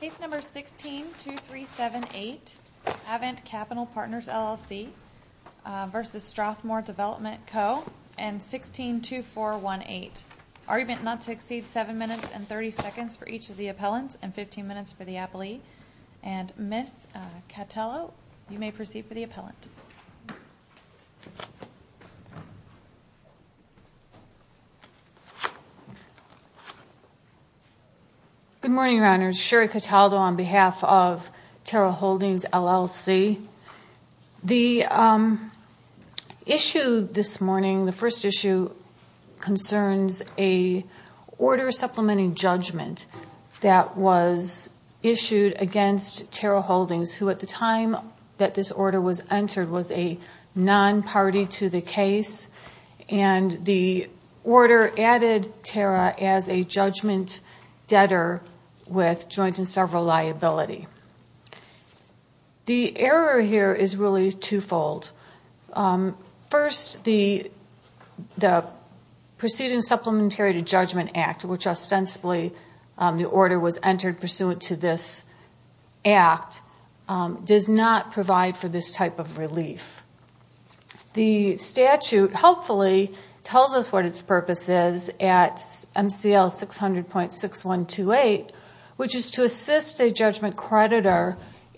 Case number 16-2378, Avent Capital Partners LLC v. Strathmore Development Co. and 16-2418. Argument not to exceed 7 minutes and 30 seconds for each of the appellants and 15 minutes for the appellee. And Ms. Cattello, you may proceed for the appellant. Good morning, Your Honors. Sherry Cattello on behalf of Terrell Holdings LLC. The issue this morning, the first issue, concerns a order supplementing judgment that was issued against Terrell Holdings, who at the time that this order was entered was a non-party to the case. And the order added Terra as a judgment debtor with joint and several liability. The error here is really twofold. First, the Proceedings Supplementary to Judgment Act, which ostensibly the order was entered pursuant to this act, does not provide for this type of relief. The statute hopefully tells us what its purpose is at MCL 600.6128, which is to assist a judgment creditor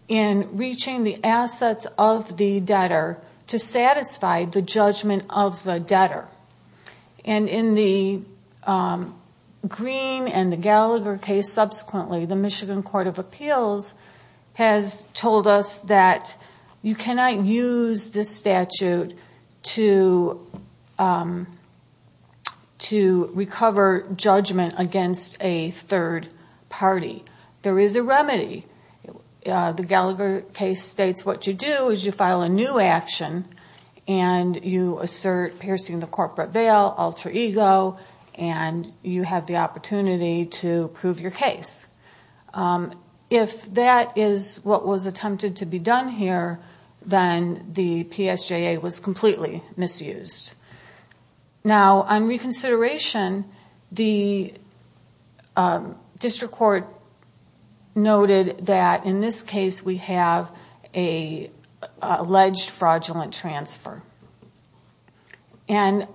in reaching the assets of the debtor to satisfy the judgment of the debtor. And in the Green and the Gallagher case subsequently, the Michigan Court of Appeals has told us that you cannot use this statute to recover judgment against a third party. There is a remedy. The Gallagher case states what you do is you file a new action, and you assert piercing the corporate veil, alter ego, and you have the opportunity to prove your case. If that is what was attempted to be done here, then the PSJA was completely misused. Now, on reconsideration, the district court noted that in this case we have an alleged fraudulent transfer. And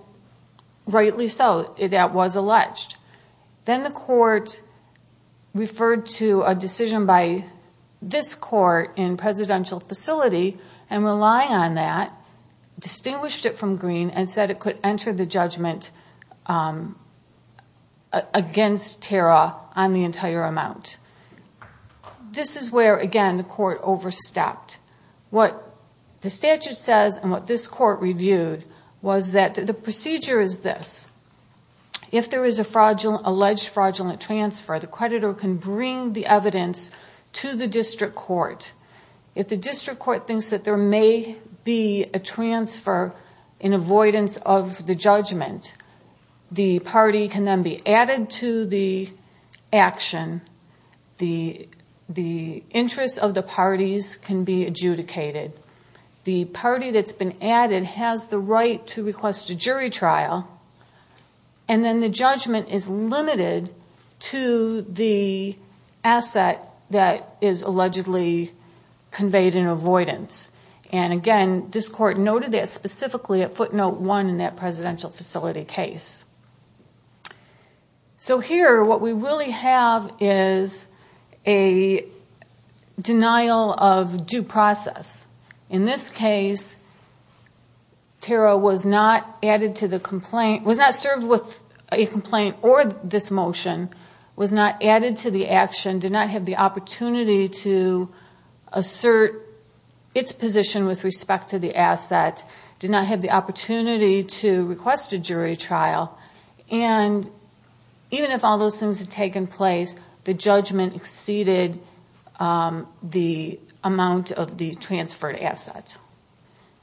rightly so, that was alleged. Then the court referred to a decision by this court in presidential facility and relied on that, distinguished it from Green, and said it could enter the judgment against Tara on the entire amount. This is where, again, the court overstepped. What the statute says and what this court reviewed was that the procedure is this. If there is an alleged fraudulent transfer, the creditor can bring the evidence to the district court. If the district court thinks that there may be a transfer in avoidance of the judgment, the party can then be added to the action. The interests of the parties can be adjudicated. The party that's been added has the right to request a jury trial, and then the judgment is limited to the asset that is allegedly conveyed in avoidance. Again, this court noted this specifically at footnote 1 in that presidential facility case. Here, what we really have is a denial of due process. In this case, Tara was not served with a complaint or this motion, was not added to the action, did not have the opportunity to assert its position with respect to the asset, did not have the opportunity to request a jury trial. Even if all those things had taken place, the judgment exceeded the amount of the transferred asset.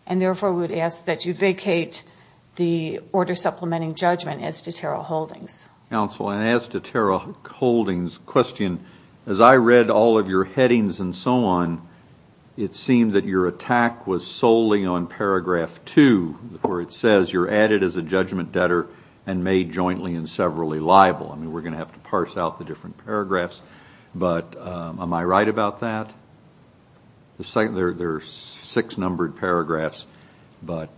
Therefore, we would ask that you vacate the order supplementing judgment as to Tara Holdings. Counsel, as to Tara Holdings' question, as I read all of your headings and so on, it seemed that your attack was solely on paragraph 2 where it says you're added as a judgment debtor and made jointly and severally liable. I mean, we're going to have to parse out the different paragraphs, but am I right about that? There are six numbered paragraphs, but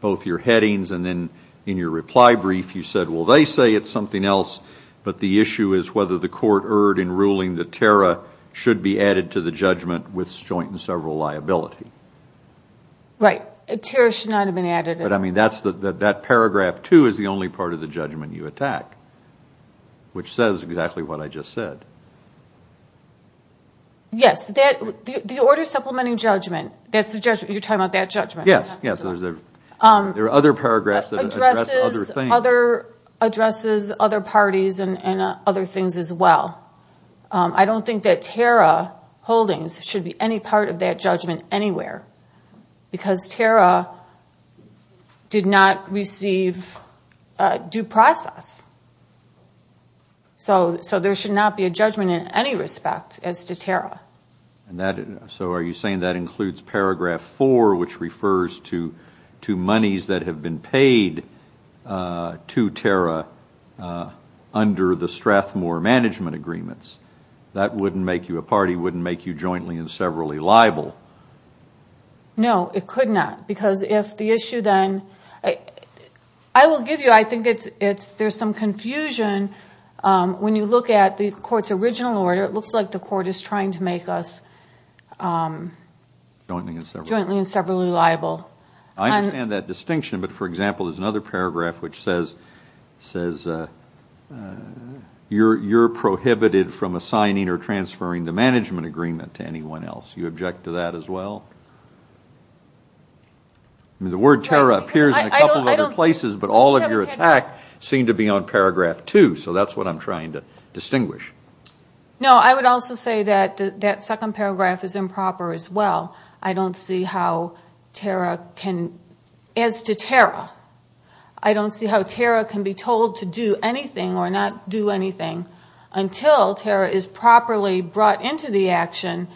both your headings and then in your reply brief, you said, well, they say it's something else, but the issue is whether the court erred in ruling that Tara should be added to the judgment with joint and several liability. Right. Tara should not have been added. But, I mean, that paragraph 2 is the only part of the judgment you attack, which says exactly what I just said. Yes. The order supplementing judgment, that's the judgment. You're talking about that judgment. Yes. There are other paragraphs that address other things. Addresses other parties and other things as well. I don't think that Tara Holdings should be any part of that judgment anywhere because Tara did not receive due process. So there should not be a judgment in any respect as to Tara. So are you saying that includes paragraph 4, which refers to monies that have been paid to Tara under the Strathmore management agreements? That wouldn't make you a party, wouldn't make you jointly and severally liable. No, it could not. Because if the issue then, I will give you, I think there's some confusion when you look at the court's original order. It looks like the court is trying to make us jointly and severally liable. I understand that distinction. But, for example, there's another paragraph which says you're prohibited from assigning or transferring the management agreement to anyone else. Do you object to that as well? The word Tara appears in a couple of other places, but all of your attacks seem to be on paragraph 2. So that's what I'm trying to distinguish. No, I would also say that that second paragraph is improper as well. I don't see how Tara can, as to Tara, I don't see how Tara can be told to do anything or not do anything until Tara is properly brought into the action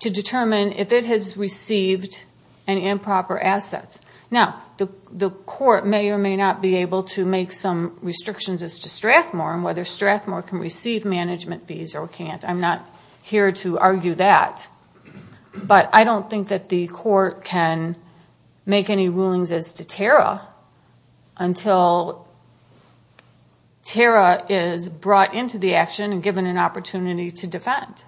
to determine if it has received any improper assets. Now, the court may or may not be able to make some restrictions as to Strathmore and whether Strathmore can receive management fees or can't. I'm not here to argue that. But I don't think that the court can make any rulings as to Tara until Tara is brought into the action and given an opportunity to defend.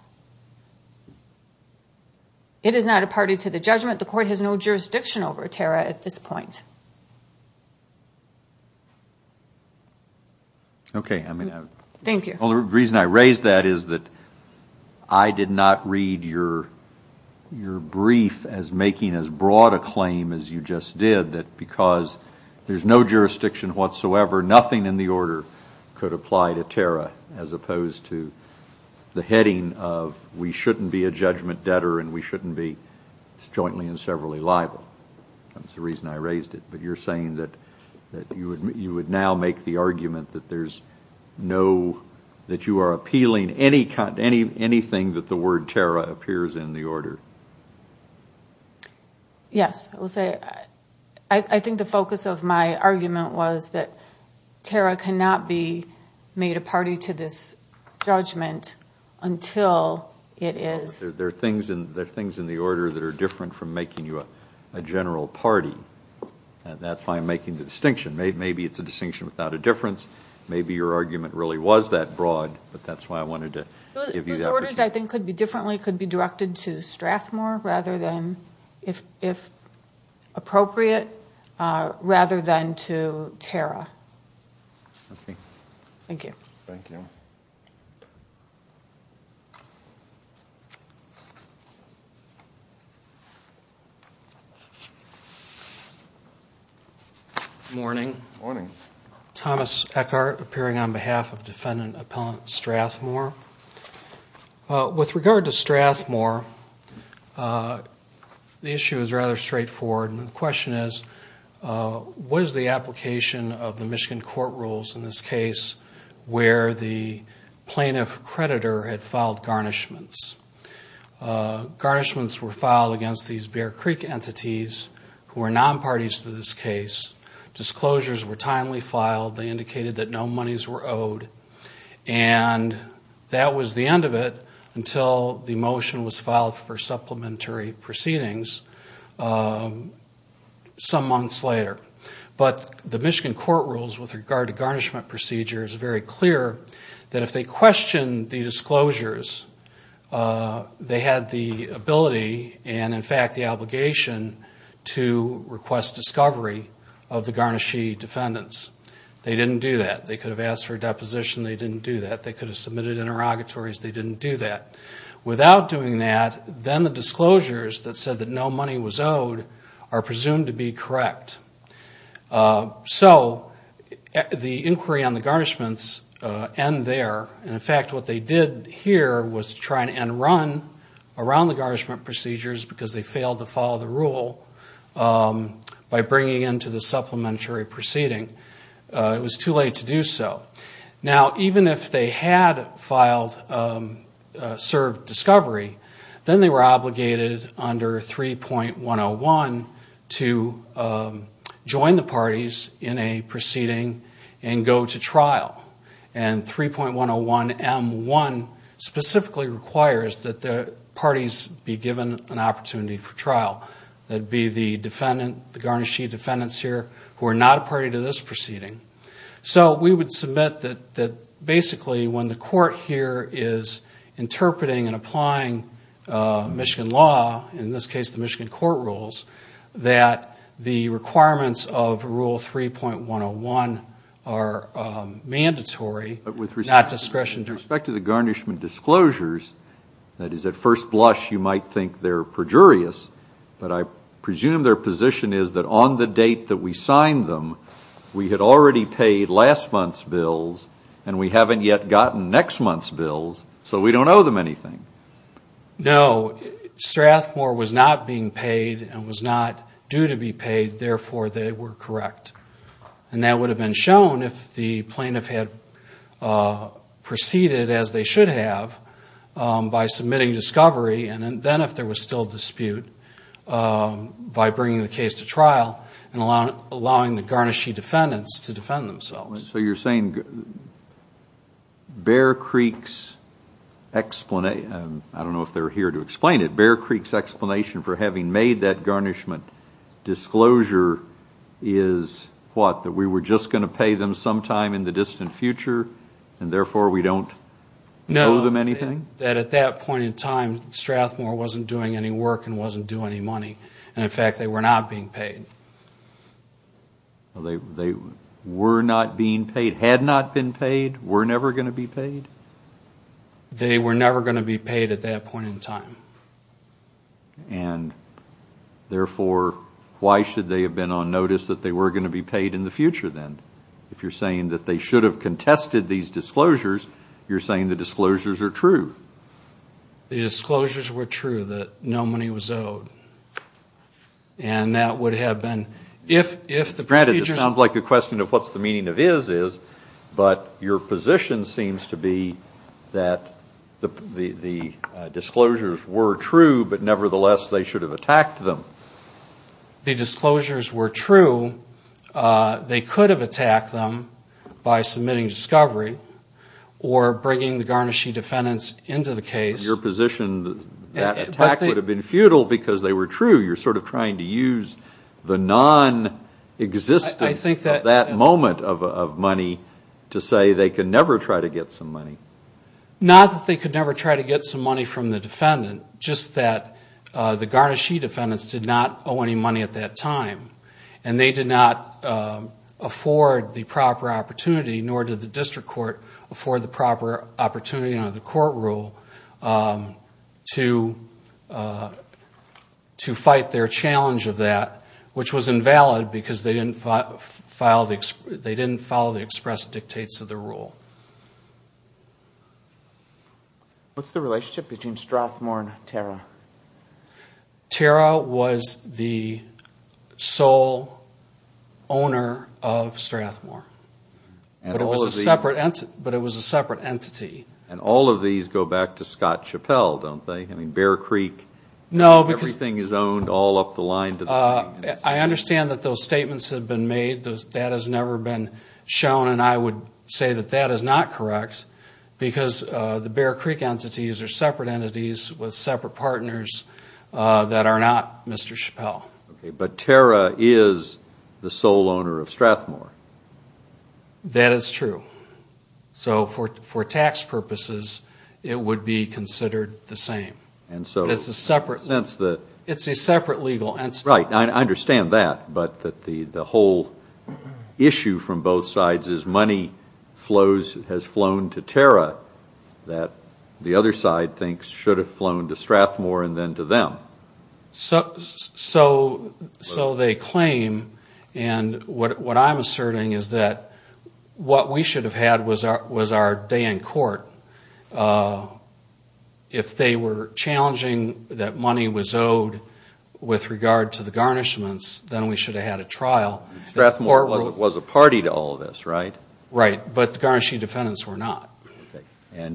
It is not a party to the judgment. The court has no jurisdiction over Tara at this point. Okay. Thank you. The reason I raise that is that I did not read your brief as making as broad a claim as you just did, that because there's no jurisdiction whatsoever, nothing in the order could apply to Tara as opposed to the heading of we shouldn't be a judgment debtor and we shouldn't be jointly and severally liable. That's the reason I raised it. But you're saying that you would now make the argument that there's no, that you are appealing anything that the word Tara appears in the order. Yes. I think the focus of my argument was that Tara cannot be made a party to this judgment until it is. There are things in the order that are different from making you a general party. That's why I'm making the distinction. Maybe it's a distinction without a difference. Maybe your argument really was that broad, but that's why I wanted to give you that. Those orders, I think, could be differently, could be directed to Strathmore rather than, if appropriate, rather than to Tara. Okay. Thank you. Thank you. Thank you. Good morning. Good morning. Thomas Eckhart, appearing on behalf of Defendant Appellant Strathmore. With regard to Strathmore, the issue is rather straightforward. And the question is, what is the application of the Michigan court rules in this case where the plaintiff creditor had filed garnishments? Garnishments were filed against these Bear Creek entities who are non-parties to this case. Disclosures were timely filed. They indicated that no monies were owed. And that was the end of it until the motion was filed for supplementary proceedings some months later. But the Michigan court rules with regard to garnishment procedure is very clear that if they questioned the disclosures, they had the ability and, in fact, the obligation to request discovery of the garnishee defendants. They didn't do that. They could have asked for a deposition. They didn't do that. They could have submitted interrogatories. They didn't do that. Without doing that, then the disclosures that said that no money was owed are presumed to be correct. So the inquiry on the garnishments end there. And, in fact, what they did here was try and run around the garnishment procedures because they failed to follow the rule by bringing into the supplementary proceeding. It was too late to do so. Now, even if they had filed, served discovery, then they were obligated under 3.101 to join the parties in a proceeding and go to trial. And 3.101M1 specifically requires that the parties be given an opportunity for trial. That would be the defendant, the garnishee defendants here who are not a party to this proceeding. So we would submit that basically when the court here is interpreting and applying Michigan law, in this case the Michigan court rules, that the requirements of Rule 3.101 are mandatory, not discretionary. With respect to the garnishment disclosures, that is, at first blush you might think they're perjurious, but I presume their position is that on the date that we signed them, we had already paid last month's bills, and we haven't yet gotten next month's bills, so we don't owe them anything. No. Strathmore was not being paid and was not due to be paid, therefore they were correct. And that would have been shown if the plaintiff had proceeded as they should have by submitting discovery. And then if there was still dispute, by bringing the case to trial and allowing the garnishee defendants to defend themselves. So you're saying Bear Creek's explanation, I don't know if they're here to explain it, Bear Creek's explanation for having made that garnishment disclosure is what, that we were just going to pay them sometime in the distant future, and Strathmore wasn't doing any work and wasn't due any money, and in fact they were not being paid. They were not being paid, had not been paid, were never going to be paid? They were never going to be paid at that point in time. And therefore, why should they have been on notice that they were going to be paid in the future then? If you're saying that they should have contested these disclosures, you're saying the disclosures are true. The disclosures were true, that no money was owed. And that would have been, if the procedures... Granted, this sounds like a question of what's the meaning of is, is, but your position seems to be that the disclosures were true, but nevertheless they should have attacked them. The disclosures were true. They could have attacked them by submitting discovery or bringing the garnishee defendants into the case. Your position, that attack would have been futile because they were true. You're sort of trying to use the non-existence of that moment of money to say they could never try to get some money. Not that they could never try to get some money from the defendant, just that the garnishee defendants did not owe any money at that time. And they did not afford the proper opportunity, nor did the district court afford the proper opportunity under the rule of law. Under the court rule, to fight their challenge of that, which was invalid because they didn't follow the express dictates of the rule. What's the relationship between Strathmore and Terra? Terra was the sole owner of Strathmore. But it was a separate entity. And all of these go back to Scott Chappell, don't they? I mean, Bear Creek, everything is owned all up the line. I understand that those statements have been made. That has never been shown, and I would say that that is not correct. Because the Bear Creek entities are separate entities with separate partners that are not Mr. Chappell. But Terra is the sole owner of Strathmore. That is true. So for tax purposes, it would be considered the same. It's a separate legal entity. I understand that, but the whole issue from both sides is money has flown to Terra that the other side thinks should have flown to Strathmore and then to them. So they claim, and what I'm asserting is that what we should have had was our day in court. If they were challenging that money was owed with regard to the garnishments, then we should have had a trial. Strathmore was a party to all of this, right? Right, but the garnishee defendants were not.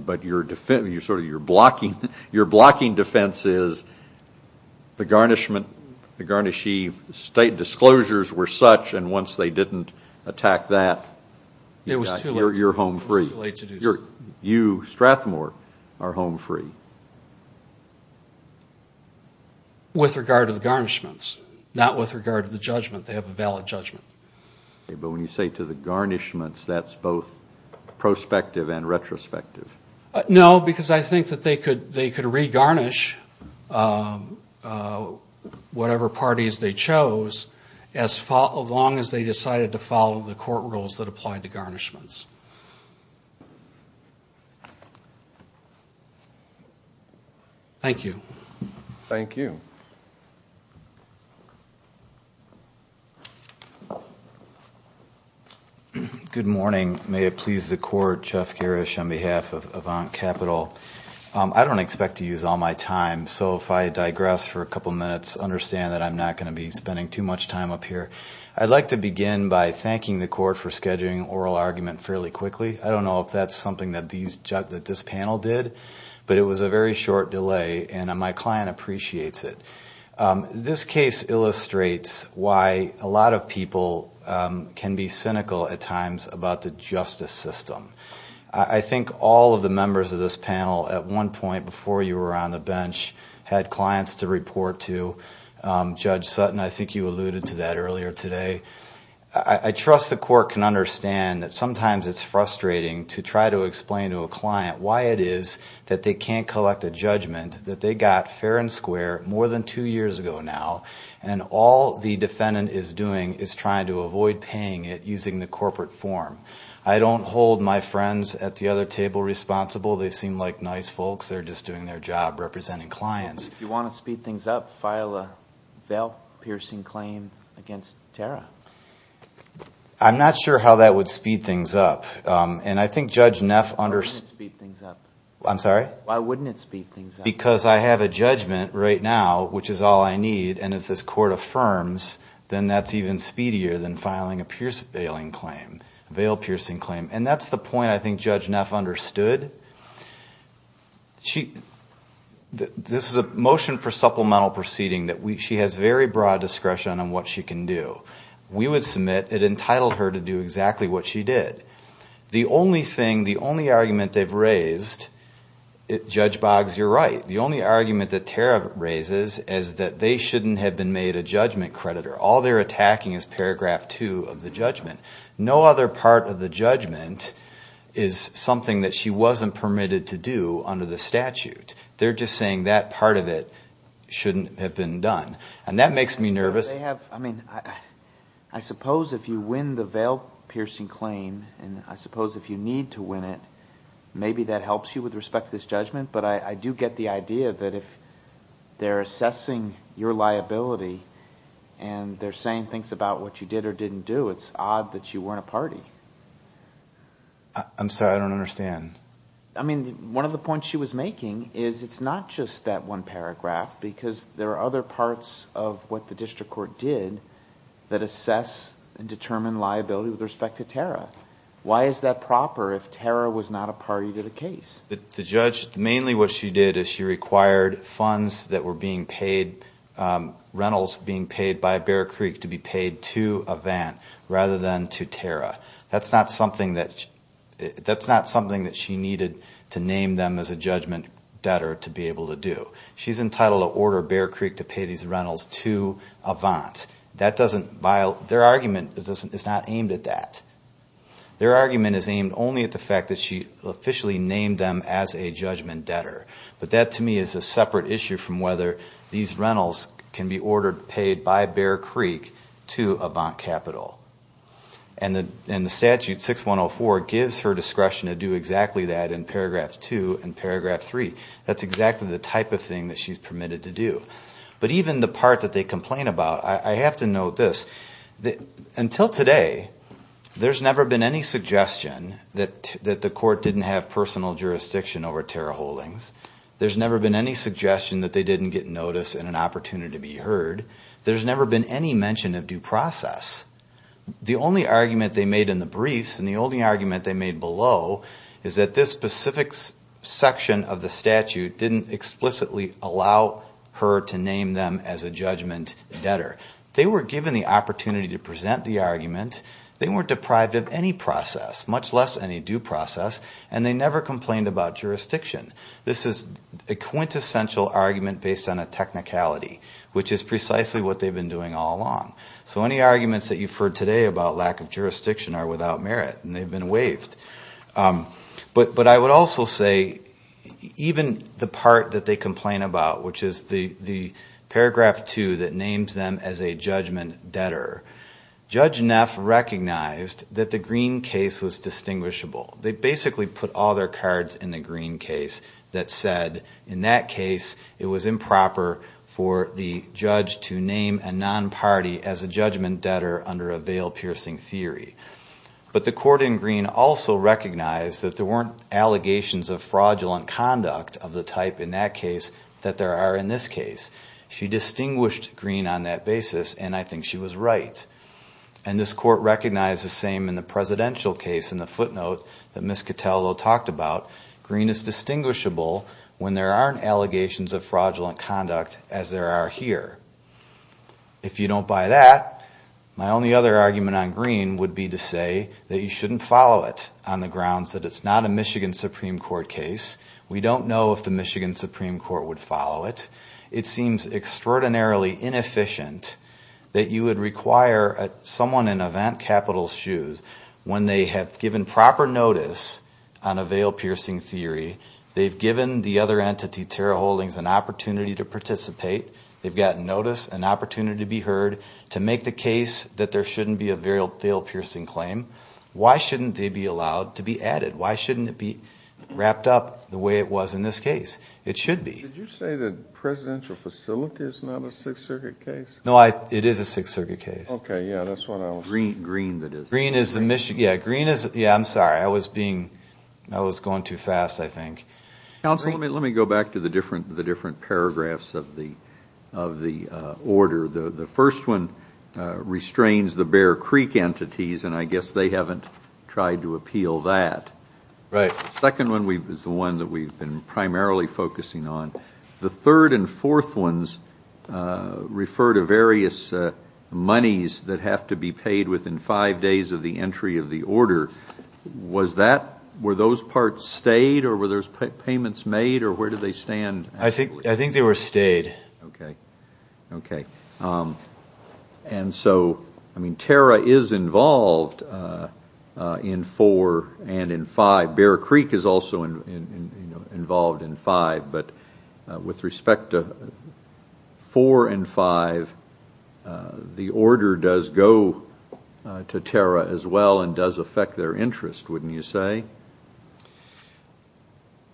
But your blocking defense is the garnishee state disclosures were such, and once they didn't attack that, you're home free. It was too late to do so. With regard to the garnishments, not with regard to the judgment. They have a valid judgment. But when you say to the garnishments, that's both prospective and retrospective. No, because I think that they could regarnish whatever parties they chose, as long as they decided to follow the court rules that applied to garnishments. Thank you. Good morning. May it please the court, Jeff Garish on behalf of Avant Capital. I don't expect to use all my time, so if I digress for a couple minutes, understand that I'm not going to be spending too much time up here. I'd like to begin by thanking the court for scheduling oral argument fairly quickly. I don't know if that's something that this panel did, but it was a very short delay, and my client appreciates it. This case illustrates why a lot of people can be cynical at times about the justice system. I think all of the members of this panel, at one point before you were on the bench, had clients to report to. Judge Sutton, I think you alluded to that earlier today. I trust the court can understand that sometimes it's frustrating to try to explain to a client why it is that they can't collect a judgment that they got fair and square more than two years ago. And all the defendant is doing is trying to avoid paying it using the corporate form. I don't hold my friends at the other table responsible. They seem like nice folks. They're just doing their job representing clients. I'm not sure how that would speed things up. Why wouldn't it speed things up? Because I have a judgment right now, which is all I need, and if this court affirms, then that's even speedier than filing a bail piercing claim. And that's the point I think Judge Neff understood. This is a motion for supplemental proceeding that she has very broad discretion on what she can do. We would submit it entitled her to do exactly what she did. The only argument they've raised, Judge Boggs, you're right, the only argument that Tara raises is that they shouldn't have been made a judgment creditor. All they're attacking is paragraph two of the judgment. No other part of the judgment is something that she wasn't permitted to do under the statute. They're just saying that part of it shouldn't have been done. And that makes me nervous. I suppose if you win the bail piercing claim, and I suppose if you need to win it, maybe that helps you with respect to this judgment. But I do get the idea that if they're assessing your liability and they're saying things about what you did or didn't do, it's odd that you weren't a party. I'm sorry, I don't understand. I mean, one of the points she was making is it's not just that one paragraph, because there are other parts of what the district court did that assess and determine liability with respect to Tara. Why is that proper if Tara was not a party to the case? The judge, mainly what she did is she required funds that were being paid, rentals being paid by Bear Creek to be paid to Avant rather than to Tara. That's not something that she needed to name them as a judgment debtor to be able to do. She's entitled to order Bear Creek to pay these rentals to Avant. Their argument is not aimed at that. Their argument is aimed only at the fact that she officially named them as a judgment debtor. But that, to me, is a separate issue from whether these rentals can be ordered, paid by Bear Creek to Avant Capital. And the statute 6104 gives her discretion to do exactly that in paragraph 2 and paragraph 3. That's exactly the type of thing that she's permitted to do. But even the part that they complain about, I have to note this. Until today, there's never been any suggestion that the court didn't have personal jurisdiction over Tara Holdings. There's never been any suggestion that they didn't get notice and an opportunity to be heard. There's never been any mention of due process. The only argument they made in the briefs and the only argument they made below is that this specific section of the statute didn't explicitly allow her to name them as a judgment debtor. They were given the opportunity to present the argument. They weren't deprived of any process, much less any due process, and they never complained about jurisdiction. This is a quintessential argument based on a technicality, which is precisely what they've been doing all along. So any arguments that you've heard today about lack of jurisdiction are without merit, and they've been waived. But I would also say, even the part that they complain about, which is the paragraph 2 that names them as a judgment debtor, Judge Neff recognized that the green case was distinguishable. They basically put all their cards in the green case that said, in that case, it was improper for the judge to name a non-party as a judgment debtor under a veil-piercing theory. But the court in green also recognized that there weren't allegations of fraudulent conduct of the type in that case that there are in this case. She distinguished green on that basis, and I think she was right. And this court recognized the same in the presidential case in the footnote that Ms. Cataldo talked about. Green is distinguishable when there aren't allegations of fraudulent conduct as there are here. If you don't buy that, my only other argument on green would be to say that you shouldn't follow it on the grounds that it's not a Michigan Supreme Court case. We don't know if the Michigan Supreme Court would follow it. It seems extraordinarily inefficient that you would require someone in Event Capital's shoes when they have given proper notice on a veil-piercing theory, they've given the other entity, Tara Holdings, an opportunity to participate, they've gotten notice, an opportunity to be heard, to make the case that there shouldn't be a veil-piercing claim. Why shouldn't they be allowed to be added? Why shouldn't it be wrapped up the way it was in this case? It should be. Did you say the presidential facility is not a Sixth Circuit case? No, it is a Sixth Circuit case. Okay, yeah, that's what I was thinking. Green is the Michigan. Yeah, I'm sorry, I was going too fast, I think. Counsel, let me go back to the different paragraphs of the order. The first one restrains the Bear Creek entities, and I guess they haven't tried to appeal that. The third and fourth ones refer to various monies that have to be paid within five days of the entry of the order. Were those parts stayed, or were those payments made, or where do they stand? I think they were stayed. Okay. Tara is involved in four and in five. Bear Creek is also involved in five. But with respect to four and five, the order does go to Tara as well, and does affect their interest, wouldn't you say?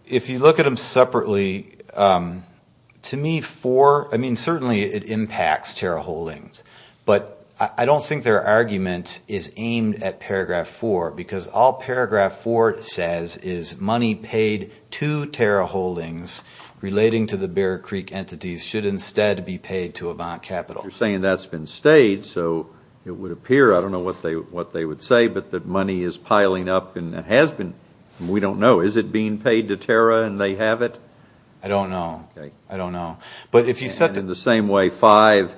If you look at them separately, to me, four, I mean, certainly it impacts Tara Holdings. But I don't think their argument is aimed at paragraph four, because all paragraph four says, is money paid to Tara Holdings relating to the Bear Creek entities should instead be paid to Avant Capital. You're saying that's been stayed, so it would appear, I don't know what they would say, but that money is piling up and has been. We don't know. Is it being paid to Tara and they have it? I don't know. In the same way five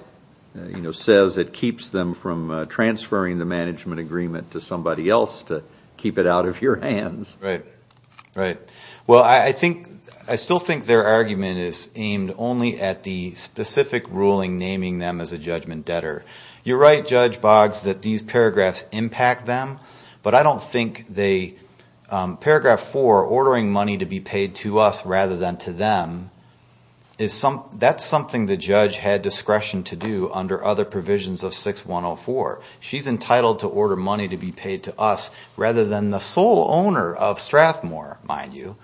says it keeps them from transferring the management agreement to somebody else to keep it out of your hands. Right. Well, I still think their argument is aimed only at the specific ruling naming them as a judgment debtor. You're right, Judge Boggs, that these paragraphs impact them, but I don't think paragraph four, ordering money to be paid to us rather than to them, that's something the judge had discretion to do under other provisions of 6104. She's entitled to order money to be paid to us rather than the sole owner of Strathmore, mind you,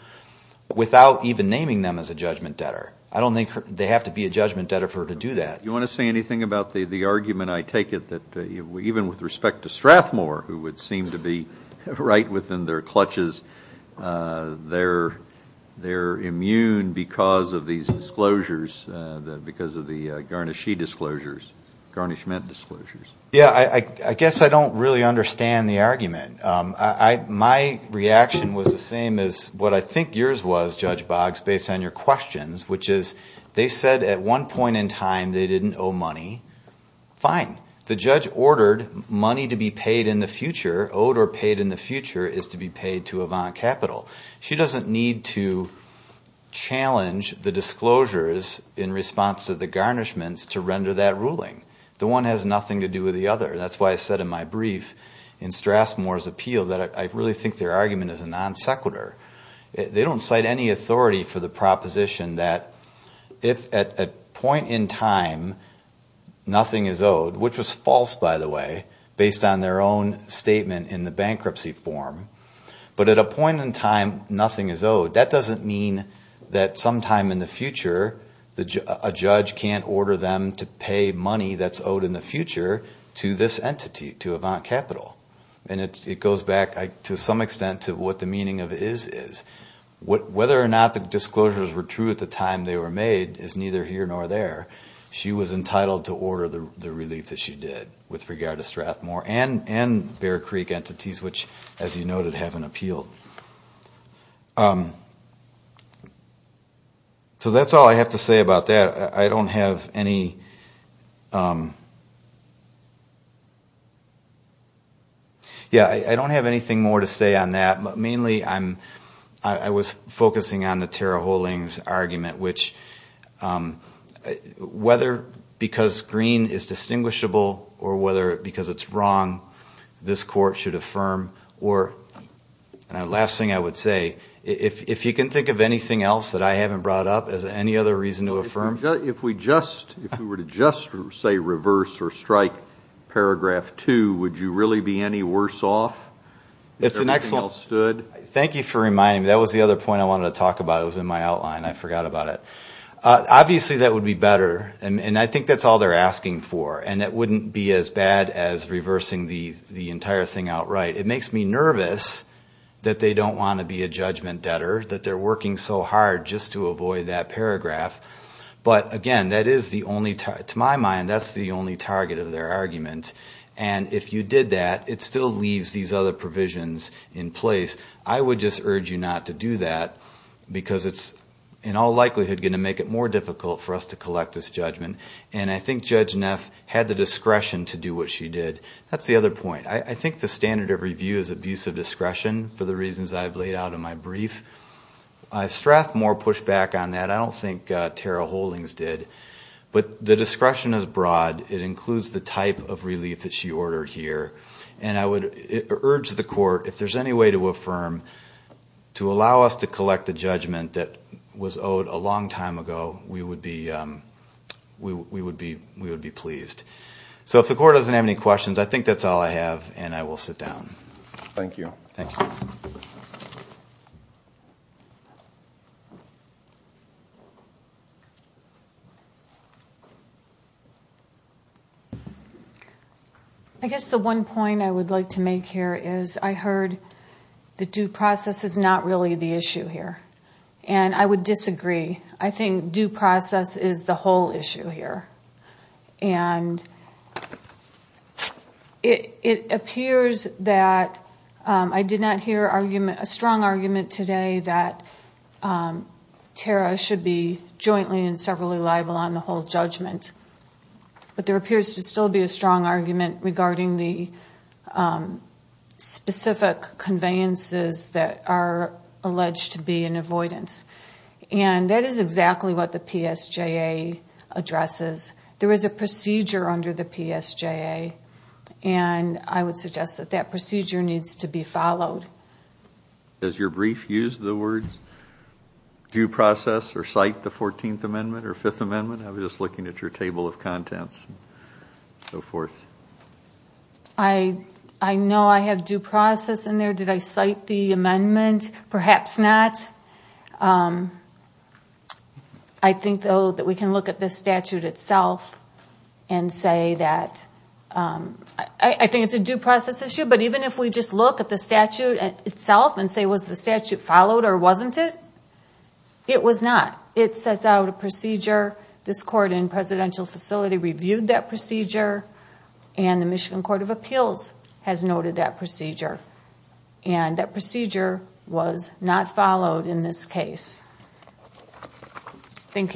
without even naming them as a judgment debtor. I don't think they have to be a judgment debtor for her to do that. Do you want to say anything about the argument, I take it, that even with respect to Strathmore, who would seem to be right within their clutches, they're immune because of these disclosures, because of the garnishee disclosures, garnishment disclosures. Yeah, I guess I don't really understand the argument. My reaction was the same as what I think yours was, Judge Boggs, based on your questions, which is they said at one point in time they didn't owe money. Fine. The judge ordered money to be paid in the future, owed or paid in the future, is to be paid to Avant Capital. She doesn't need to challenge the disclosures in response to the garnishments to render that ruling. The one has nothing to do with the other. That's why I said in my brief in Strathmore's appeal that I really think their argument is a non sequitur. They don't cite any authority for the proposition that if at a point in time nothing is owed, which was false, by the way, based on their own statement in the bankruptcy form, but at a point in time nothing is owed, that doesn't mean that sometime in the future a judge can't order them to pay money that's owed in the future to this entity, to Avant Capital. And it goes back to some extent to what the meaning of is is. Whether or not the disclosures were true at the time they were made is neither here nor there. She was entitled to order the relief that she did with regard to Strathmore and Bear Creek entities, which, as you noted, have an appeal. So that's all I have to say about that. Yeah, I don't have anything more to say on that, but mainly I was focusing on the Tara Hoeling's argument, which whether because green is distinguishable or whether because it's wrong, this court should affirm or, and the last thing I would say, if you can think of anything else that I haven't brought up as any other reason to affirm. If we were to just say reverse or strike paragraph two, would you really be any worse off? Thank you for reminding me. That was the other point I wanted to talk about. It was in my outline. I forgot about it. Obviously that would be better, and I think that's all they're asking for, and it wouldn't be as bad as reversing the entire thing outright. It makes me nervous that they don't want to be a judgment debtor, that they're working so hard just to avoid that paragraph. But again, to my mind, that's the only target of their argument, and if you did that, it still leaves these other provisions in place. I would just urge you not to do that because it's in all likelihood going to make it more difficult for us to collect this judgment, and I think Judge Neff had the discretion to do what she did. That's the other point. I think the standard of review is abuse of discretion for the reasons I've laid out in my brief. Strathmore pushed back on that. I don't think Tara Holdings did, but the discretion is broad. It includes the type of relief that she ordered here, and I would urge the court, if there's any way to affirm, to allow us to collect a judgment that was owed a long time ago, we would be pleased. So if the court doesn't have any questions, I think that's all I have, and I will sit down. Thank you. I guess the one point I would like to make here is I heard the due process is not really the issue here, and I would disagree. I think due process is the whole issue here, and it appears that I did not hear a strong argument today that Tara should be jointly and severally liable on the whole judgment, but there appears to still be a strong argument regarding the specific conveyances that are alleged to be in effect. And that is exactly what the PSJA addresses. There is a procedure under the PSJA, and I would suggest that that procedure needs to be followed. Has your brief used the words due process or cite the 14th Amendment or 5th Amendment? I was just looking at your table of contents and so forth. I know I have due process in there. I think, though, that we can look at this statute itself and say that... I think it's a due process issue, but even if we just look at the statute itself and say, was the statute followed or wasn't it, it was not. It sets out a procedure. This court in Presidential Facility reviewed that procedure, and the Michigan Court of Appeals has noted that procedure. And that procedure was not followed in this case. Thank you.